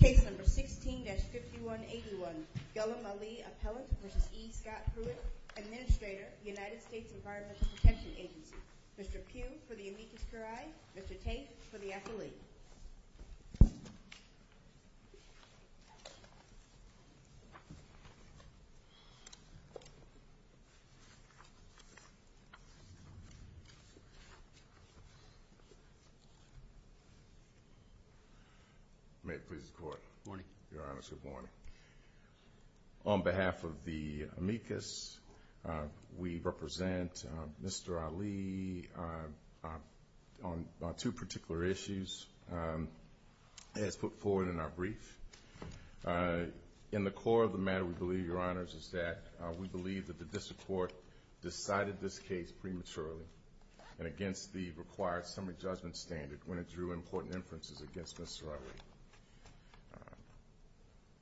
Case number 16-5181, Ghulam Ali Appellant v. E. Scott Pruitt Administrator, United States Environmental Protection Agency Mr. Pugh for the amicus curiae, Mr. Tate for the affiliate May it please the Court. Good morning. Your Honors, good morning. On behalf of the amicus, we represent Mr. Ali on two particular issues as put forward in our brief. In the core of the matter, we believe, Your Honors, is that we believe that the district court decided this case prematurely and against the required summary judgment standard when it drew important inferences against Mr. Ali.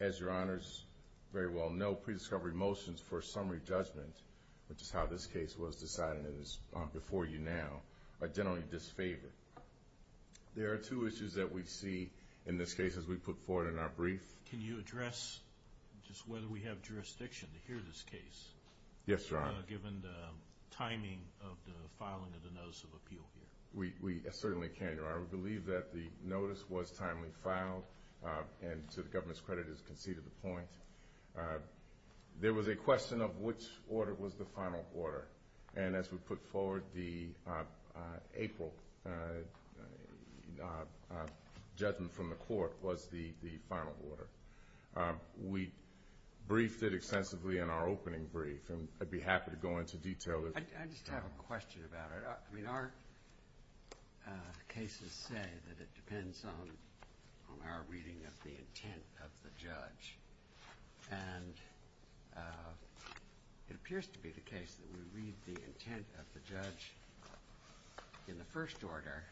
As Your Honors very well know, pre-discovery motions for summary judgment, which is how this case was decided and is before you now, are generally disfavored. There are two issues that we see in this case as we put forward in our brief. Can you address just whether we have jurisdiction to hear this case? Yes, Your Honor. Given the timing of the filing of the notice of appeal here. We certainly can, Your Honor. We believe that the notice was timely filed and to the government's credit has conceded the point. There was a question of which order was the final order. And as we put forward, the April judgment from the court was the final order. We briefed it extensively in our opening brief, and I'd be happy to go into detail. I just have a question about it. I mean, our cases say that it depends on our reading of the intent of the judge. And it appears to be the case that we read the intent of the judge in the first order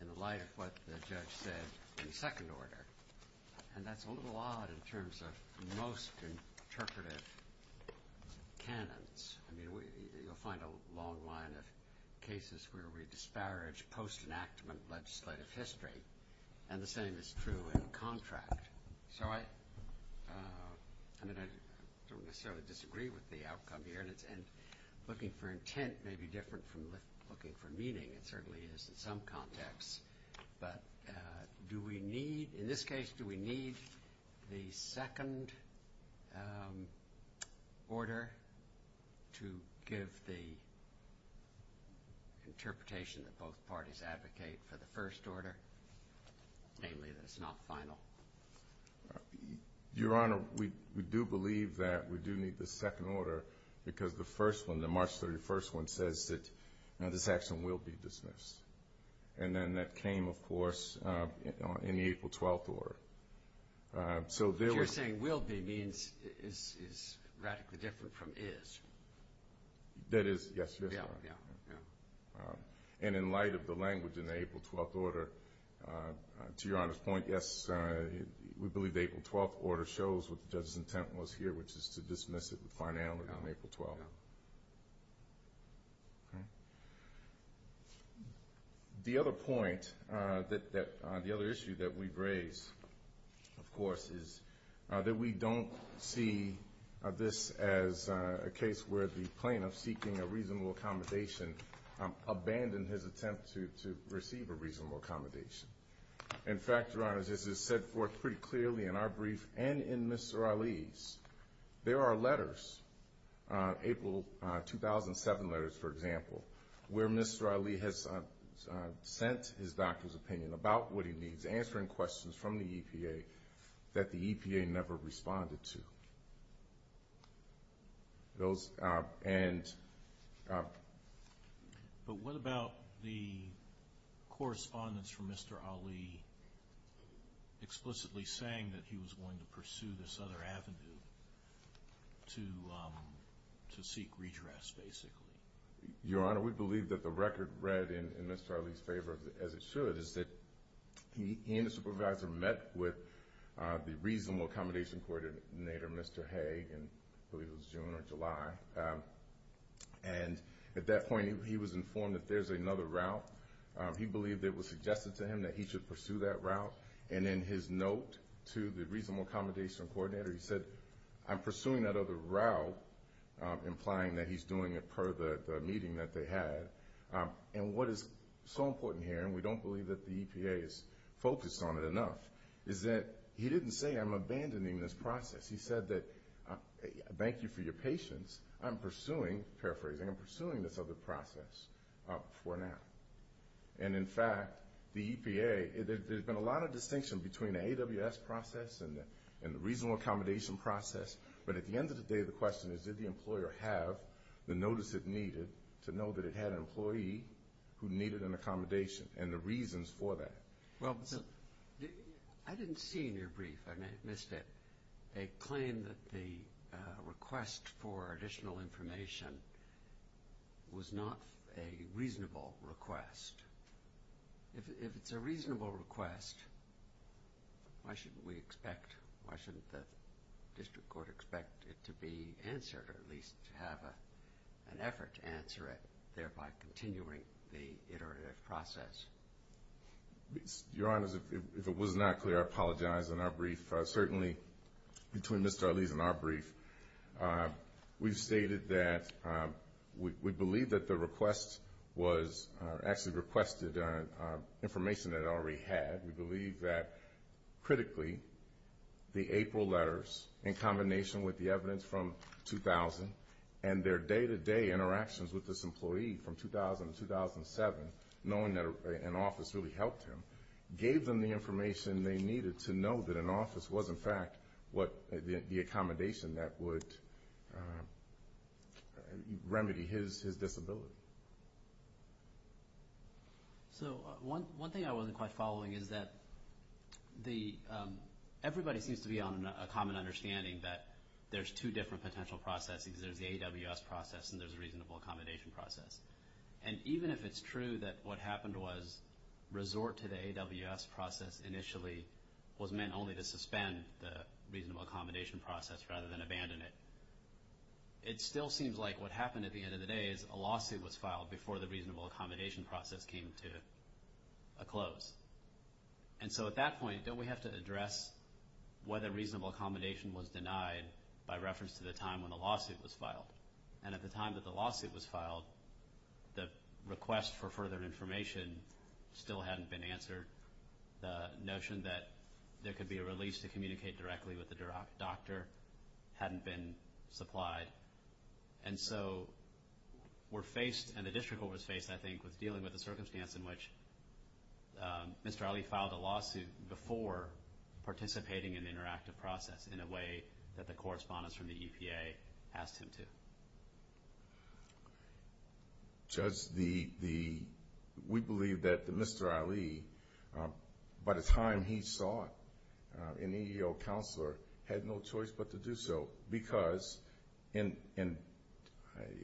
in the light of what the judge said in the second order. And that's a little odd in terms of most interpretive canons. I mean, you'll find a long line of cases where we disparage post-enactment legislative history. And the same is true in contract. So I don't necessarily disagree with the outcome here. And looking for intent may be different from looking for meaning. It certainly is in some contexts. But do we need, in this case, do we need the second order to give the interpretation that both parties advocate for the first order, namely that it's not final? Your Honor, we do believe that we do need the second order because the first one, the March 31st one, says that this action will be dismissed. And then that came, of course, in the April 12th order. So there was – You're saying will be means is radically different from is. That is, yes, Your Honor. Yeah, yeah, yeah. And in light of the language in the April 12th order, to Your Honor's point, yes, we believe the April 12th order shows what the judge's intent was here, which is to dismiss it with finality on April 12th. The other point, the other issue that we've raised, of course, is that we don't see this as a case where the plaintiff seeking a reasonable accommodation abandoned his attempt to receive a reasonable accommodation. In fact, Your Honor, this is set forth pretty clearly in our brief and in Mr. Ali's. There are letters, April 2007 letters, for example, where Mr. Ali has sent his doctor's opinion about what he needs, answering questions from the EPA that the EPA never responded to. Those – and – But what about the correspondence from Mr. Ali explicitly saying that he was going to pursue this other avenue to seek redress, basically? Your Honor, we believe that the record read in Mr. Ali's favor, as it should, is that he and his supervisor met with the reasonable accommodation coordinator, Mr. Hague, I believe it was June or July. And at that point, he was informed that there's another route. He believed it was suggested to him that he should pursue that route. And in his note to the reasonable accommodation coordinator, he said, I'm pursuing that other route, implying that he's doing it per the meeting that they had. And what is so important here, and we don't believe that the EPA is focused on it enough, is that he didn't say, I'm abandoning this process. He said that, thank you for your patience. I'm pursuing – paraphrasing – I'm pursuing this other process for now. And in fact, the EPA – there's been a lot of distinction between the AWS process and the reasonable accommodation process, but at the end of the day, the question is, did the employer have the notice it needed to know that it had an employee who needed an accommodation and the reasons for that? Well, I didn't see in your brief, and I missed it, a claim that the request for additional information was not a reasonable request. If it's a reasonable request, why shouldn't we expect – why shouldn't we answer, or at least have an effort to answer it, thereby continuing the iterative process? Your Honors, if it was not clear, I apologize. In our brief, certainly between Mr. Arliz and our brief, we've stated that we believe that the request was – actually requested information that it already had. We believe that, critically, the April letters in combination with the evidence from 2000 and their day-to-day interactions with this employee from 2000 to 2007, knowing that an office really helped him, gave them the information they needed to know that an office was, in fact, the accommodation that would remedy his disability. So one thing I wasn't quite following is that everybody seems to be on a common understanding that there's two different potential processes. There's the AWS process and there's the reasonable accommodation process. And even if it's true that what happened was resort to the AWS process initially was meant only to suspend the reasonable accommodation process rather than abandon it, it still seems like what happened at the end of the day is a lawsuit was filed before the reasonable accommodation process came to a close. And so at that point, don't we have to address whether reasonable accommodation was denied by reference to the time when the lawsuit was filed? And at the time that the lawsuit was filed, the request for further information still hadn't been answered. The notion that there could be a release to communicate directly with the doctor hadn't been supplied. And so we're faced, and the district was faced, I think, with dealing with the circumstance in which Mr. Ali filed a lawsuit before participating in the interactive process in a way that the correspondence from the EPA asked him to. Judge, we believe that Mr. Ali, by the time he saw an EEO counselor, had no choice but to do so because in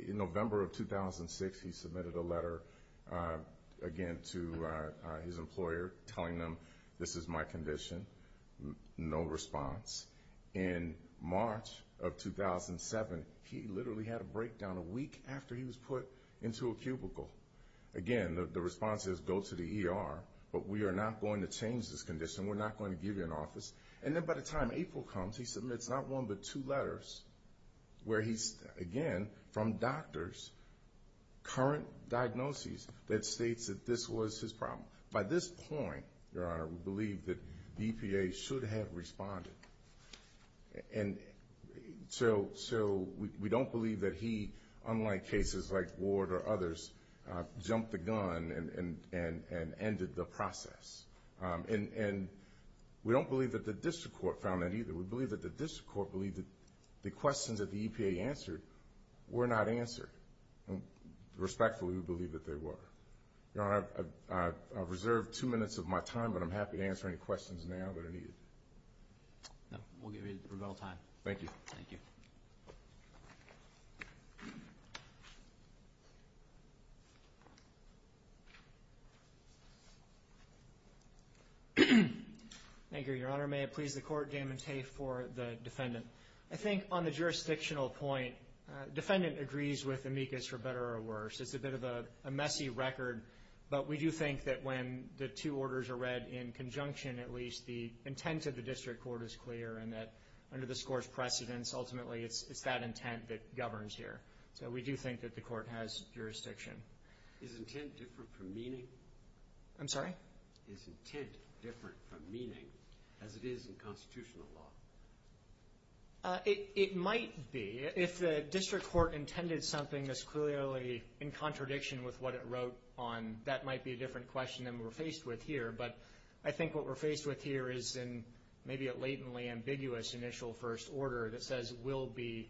November of 2006, he submitted a letter, again, to his employer telling them this is my condition. No response. In March of 2007, he literally had a breakdown a week after he was put into a cubicle. Again, the response is go to the ER, but we are not going to change this condition. We're not going to give you an office. And then by the time April comes, he submits not one but two letters where he's, again, from doctors, current diagnoses that states that this was his problem. By this point, Your Honor, we believe that the EPA should have responded. And so we don't believe that he, unlike cases like Ward or others, jumped the gun and ended the process. And we don't believe that the district court found that either. We believe that the district court believed that the questions that the EPA answered were not answered. Respectfully, we believe that they were. Your Honor, I've reserved two minutes of my time, but I'm happy to answer any questions now that are needed. We'll give you a little time. Thank you. Thank you. Thank you, Your Honor. May it please the Court. Damon Tate for the defendant. I think on the jurisdictional point, defendant agrees with amicus for better or worse. It's a bit of a messy record, but we do think that when the two orders are read in conjunction, at least the intent of the district court is clear and that under the score's precedence, ultimately it's that intent that governs here. So we do think that the Court has jurisdiction. Is intent different from meaning? I'm sorry? Is intent different from meaning as it is in constitutional law? It might be. If the district court intended something that's clearly in contradiction with what it wrote on, that might be a different question than we're faced with here. But I think what we're faced with here is maybe a latently ambiguous initial first order that says will be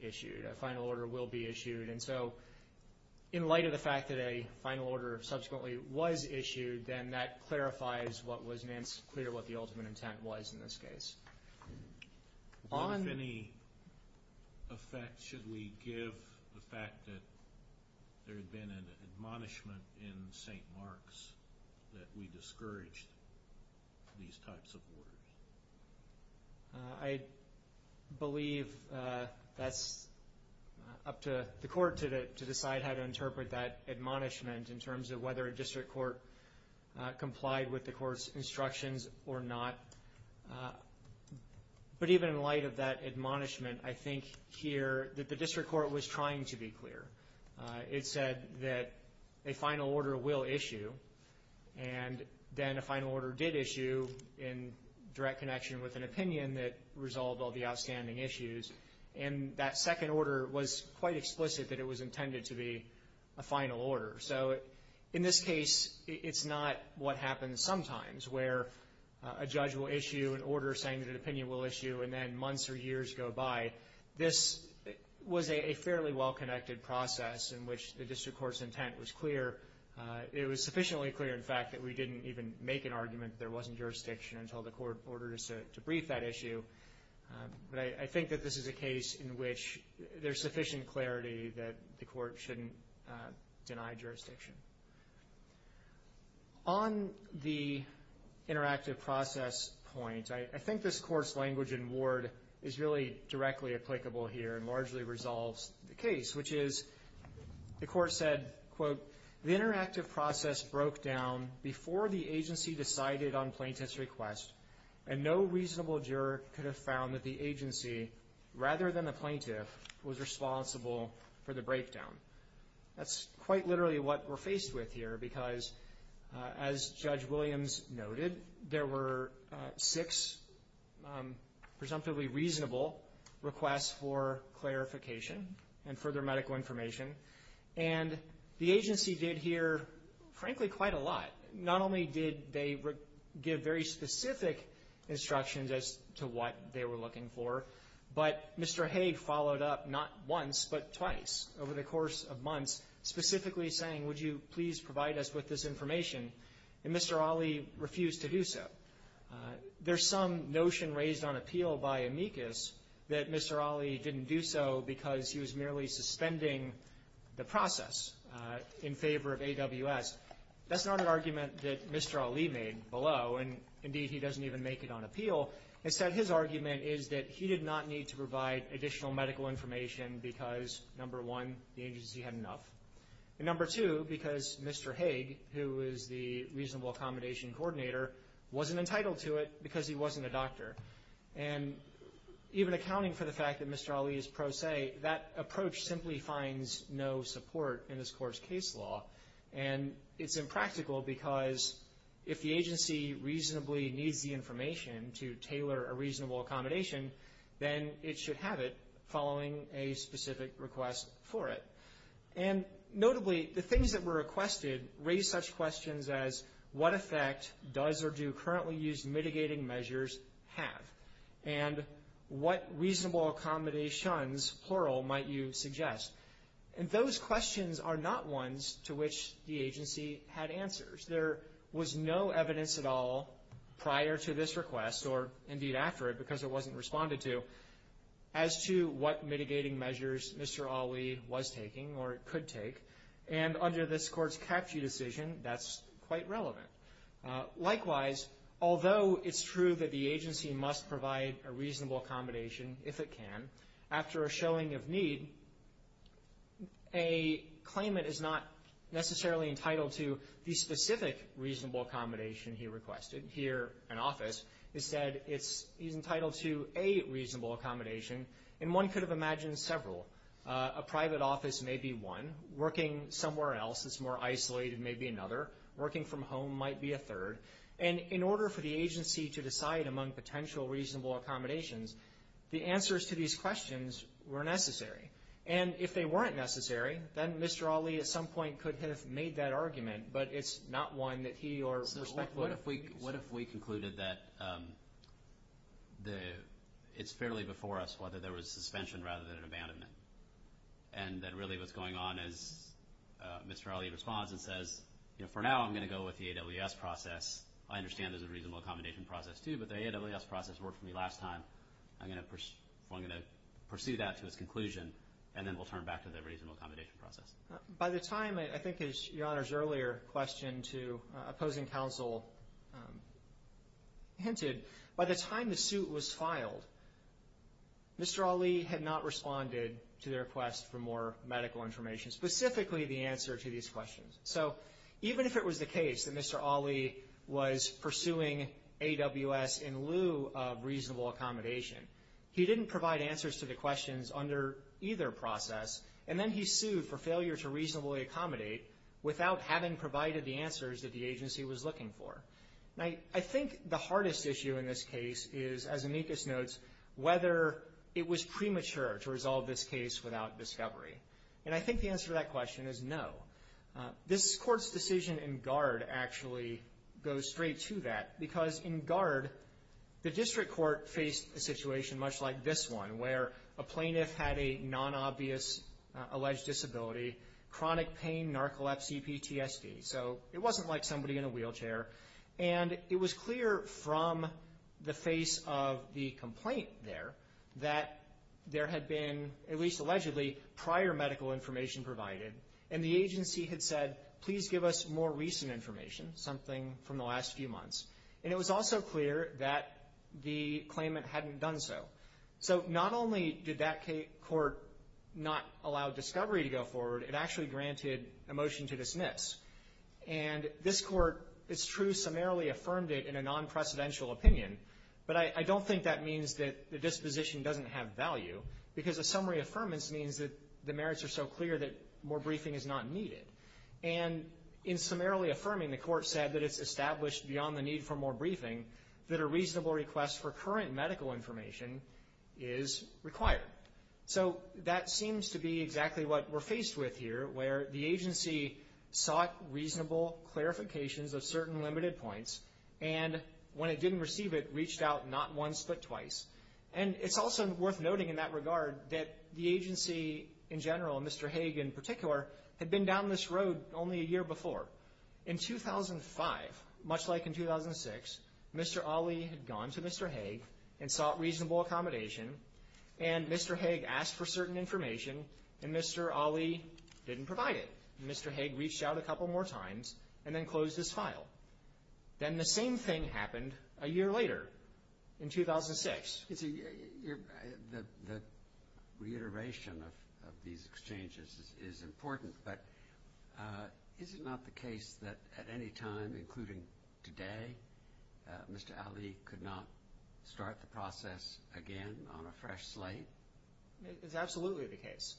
issued, a final order will be issued. And so in light of the fact that a final order subsequently was issued, then that clarifies what was clear, what the ultimate intent was in this case. What, if any, effect should we give the fact that there had been an admonishment in St. Mark's that we discouraged these types of orders? I believe that's up to the Court to decide how to interpret that admonishment in terms of whether a district court complied with the Court's instructions or not. But even in light of that admonishment, I think here that the district court was trying to be clear. It said that a final order will issue, and then a final order did issue in direct connection with an opinion that resolved all the outstanding issues. And that second order was quite explicit that it was intended to be a final order. So in this case, it's not what happens sometimes where a judge will issue an order saying that an opinion will issue and then months or years go by. This was a fairly well-connected process in which the district court's intent was clear. It was sufficiently clear, in fact, that we didn't even make an argument that there wasn't jurisdiction until the Court ordered us to brief that issue. But I think that this is a case in which there's sufficient clarity that the Court shouldn't deny jurisdiction. On the interactive process point, I think this Court's language in Ward is really directly applicable here and largely resolves the case, which is the Court said, quote, the interactive process broke down before the agency decided on plaintiff's request, and no reasonable juror could have found that the agency, rather than the plaintiff, was responsible for the breakdown. That's quite literally what we're faced with here because, as Judge Williams noted, there were six presumptively reasonable requests for clarification and further medical information. And the agency did hear, frankly, quite a lot. Not only did they give very specific instructions as to what they were looking for, but Mr. Hague followed up not once but twice over the course of months specifically saying, would you please provide us with this information, and Mr. Ali refused to do so. There's some notion raised on appeal by amicus that Mr. Ali didn't do so because he was merely suspending the process in favor of AWS. That's not an argument that Mr. Ali made below, and, indeed, he doesn't even make it on appeal. Instead, his argument is that he did not need to provide additional medical information because, number one, the agency had enough, and, number two, because Mr. Hague, who is the reasonable accommodation coordinator, wasn't entitled to it because he wasn't a doctor. And even accounting for the fact that Mr. Ali is pro se, that approach simply finds no support in this Court's case law, and it's impractical because if the agency reasonably needs the information to tailor a reasonable accommodation, then it should have it following a specific request for it. And, notably, the things that were requested raised such questions as what effect does or do currently used mitigating measures have, and what reasonable accommodations, plural, might you suggest, and those questions are not ones to which the agency had answers. There was no evidence at all prior to this request, or, indeed, after it because it wasn't responded to, as to what mitigating measures Mr. Ali was taking or could take. And under this Court's CAPG decision, that's quite relevant. Likewise, although it's true that the agency must provide a reasonable accommodation if it can, after a showing of need, a claimant is not necessarily entitled to the specific reasonable accommodation he requested. Here, an office, it said he's entitled to a reasonable accommodation, and one could have imagined several. A private office may be one. Working somewhere else that's more isolated may be another. Working from home might be a third. And in order for the agency to decide among potential reasonable accommodations, the answers to these questions were necessary. And if they weren't necessary, then Mr. Ali, at some point, could have made that argument, but it's not one that he or respectful of. What if we concluded that it's fairly before us whether there was suspension rather than an abandonment, and that really what's going on is Mr. Ali responds and says, you know, for now I'm going to go with the AWS process. I understand there's a reasonable accommodation process, too, but the AWS process worked for me last time. I'm going to pursue that to its conclusion, and then we'll turn back to the reasonable accommodation process. By the time, I think, as Your Honor's earlier question to opposing counsel hinted, by the time the suit was filed, Mr. Ali had not responded to their request for more medical information, specifically the answer to these questions. So even if it was the case that Mr. Ali was pursuing AWS in lieu of reasonable accommodation, he didn't provide answers to the questions under either process, and then he sued for failure to reasonably accommodate without having provided the answers that the agency was looking for. Now, I think the hardest issue in this case is, as amicus notes, whether it was premature to resolve this case without discovery, and I think the answer to that question is no. This court's decision in guard actually goes straight to that because in guard, the district court faced a situation much like this one where a plaintiff had a non-obvious alleged disability, chronic pain, narcolepsy, PTSD. So it wasn't like somebody in a wheelchair, and it was clear from the face of the complaint there that there had been, at least allegedly, prior medical information provided, and the agency had said, please give us more recent information, something from the last few months, and it was also clear that the claimant hadn't done so. So not only did that court not allow discovery to go forward, it actually granted a motion to dismiss. And this court, it's true, summarily affirmed it in a non-precedential opinion, but I don't think that means that the disposition doesn't have value, because a summary affirmance means that the merits are so clear that more briefing is not needed. And in summarily affirming, the court said that it's established beyond the need for more briefing that a reasonable request for current medical information is required. So that seems to be exactly what we're faced with here, where the agency sought reasonable clarifications of certain limited points, and when it didn't receive it, reached out not once but twice. And it's also worth noting in that regard that the agency in general, and Mr. Hague in particular, had been down this road only a year before. In 2005, much like in 2006, Mr. Ali had gone to Mr. Hague and sought reasonable accommodation, and Mr. Hague asked for certain information, and Mr. Ali didn't provide it. And Mr. Hague reached out a couple more times and then closed his file. Then the same thing happened a year later in 2006. The reiteration of these exchanges is important, but is it not the case that at any time, including today, Mr. Ali could not start the process again on a fresh slate? It's absolutely the case.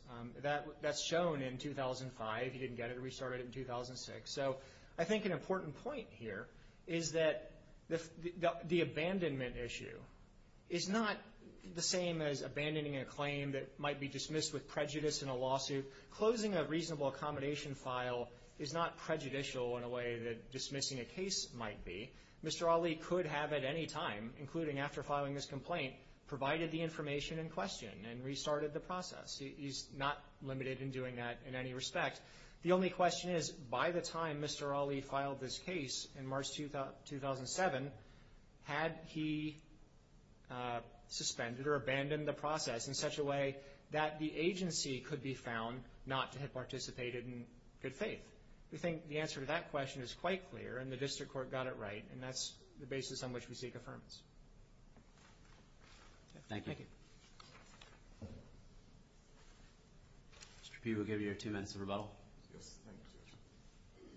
That's shown in 2005. He didn't get it and restarted it in 2006. So I think an important point here is that the abandonment issue is not the same as abandoning a claim that might be dismissed with prejudice in a lawsuit. Closing a reasonable accommodation file is not prejudicial in a way that dismissing a case might be. Mr. Ali could have at any time, including after filing this complaint, provided the information in question and restarted the process. He's not limited in doing that in any respect. The only question is, by the time Mr. Ali filed this case in March 2007, had he suspended or abandoned the process in such a way that the agency could be found not to have participated in good faith? We think the answer to that question is quite clear, and the district court got it right, and that's the basis on which we seek affirmance. Thank you. Thank you. Mr. Peay, we'll give you your two minutes of rebuttal. Yes, thank you.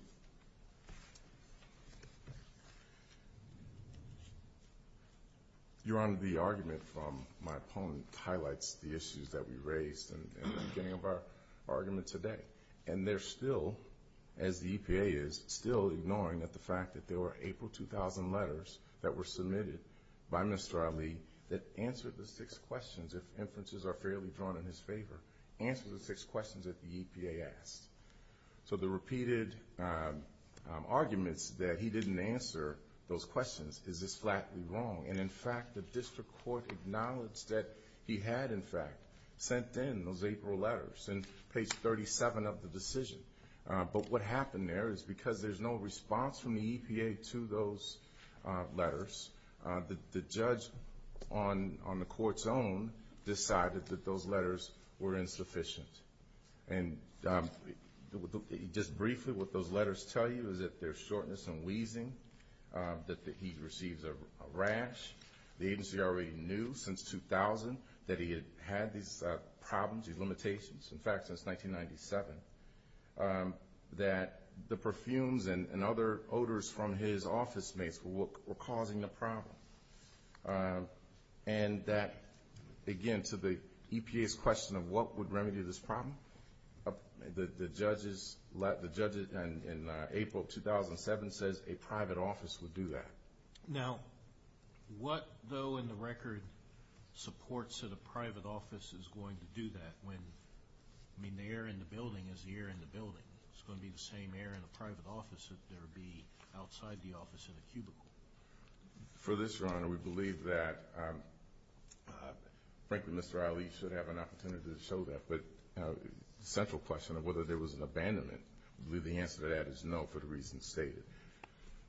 Your Honor, the argument from my opponent highlights the issues that we raised in the beginning of our argument today, and they're still, as the EPA is, still ignoring the fact that there were April 2000 letters that were submitted by Mr. Ali that answered the six questions, if inferences are fairly drawn in his favor, answered the six questions that the EPA asked. So the repeated arguments that he didn't answer those questions is just flatly wrong, and, in fact, the district court acknowledged that he had, in fact, sent in those April letters in page 37 of the decision. But what happened there is because there's no response from the EPA to those letters, the judge on the court's own decided that those letters were insufficient. And just briefly, what those letters tell you is that there's shortness in wheezing, that he receives a rash. The agency already knew since 2000 that he had had these problems, these limitations, in fact, since 1997, that the perfumes and other odors from his office mates were causing the problem, and that, again, to the EPA's question of what would remedy this problem, the judge in April 2007 says a private office would do that. Now, what, though, in the record supports that a private office is going to do that when, I mean, the air in the building is the air in the building. It's going to be the same air in a private office that there would be outside the office in a cubicle. For this, Your Honor, we believe that, frankly, Mr. Ali should have an opportunity to show that, but the central question of whether there was an abandonment, we believe the answer to that is no for the reasons stated.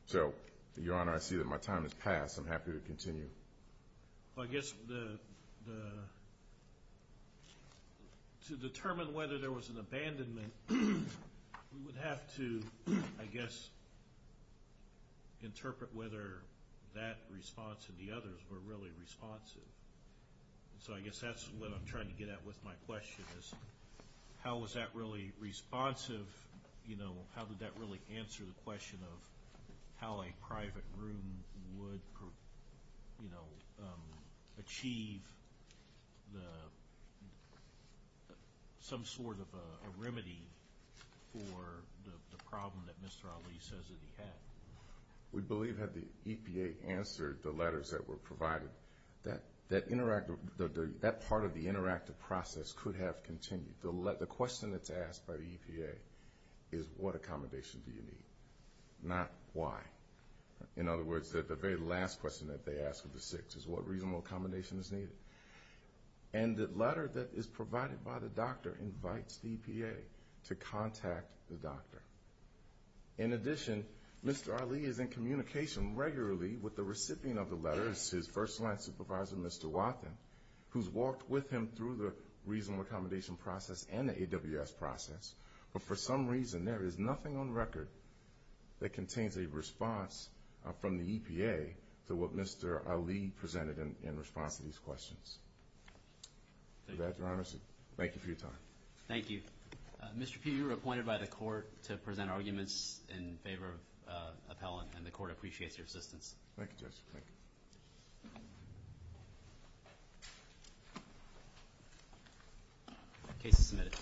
So, Your Honor, I see that my time has passed. I'm happy to continue. Well, I guess to determine whether there was an abandonment, we would have to, I guess, interpret whether that response and the others were really responsive. So I guess that's what I'm trying to get at with my question is how was that really responsive, you know, how did that really answer the question of how a private room would, you know, achieve some sort of a remedy for the problem that Mr. Ali says that he had? We believe that the EPA answered the letters that were provided. That part of the interactive process could have continued. The question that's asked by the EPA is what accommodation do you need, not why. In other words, the very last question that they ask of the sick is what reasonable accommodation is needed. And the letter that is provided by the doctor invites the EPA to contact the doctor. In addition, Mr. Ali is in communication regularly with the recipient of the letters, his first-line supervisor, Mr. Wathen, who's walked with him through the reasonable accommodation process and the AWS process, but for some reason there is nothing on record that contains a response from the EPA to what Mr. Ali presented in response to these questions. With that, Your Honor, thank you for your time. Thank you. Mr. Peay, you were appointed by the court to present arguments in favor of Appellant, and the court appreciates your assistance. Thank you, Judge. Thank you. The case is submitted.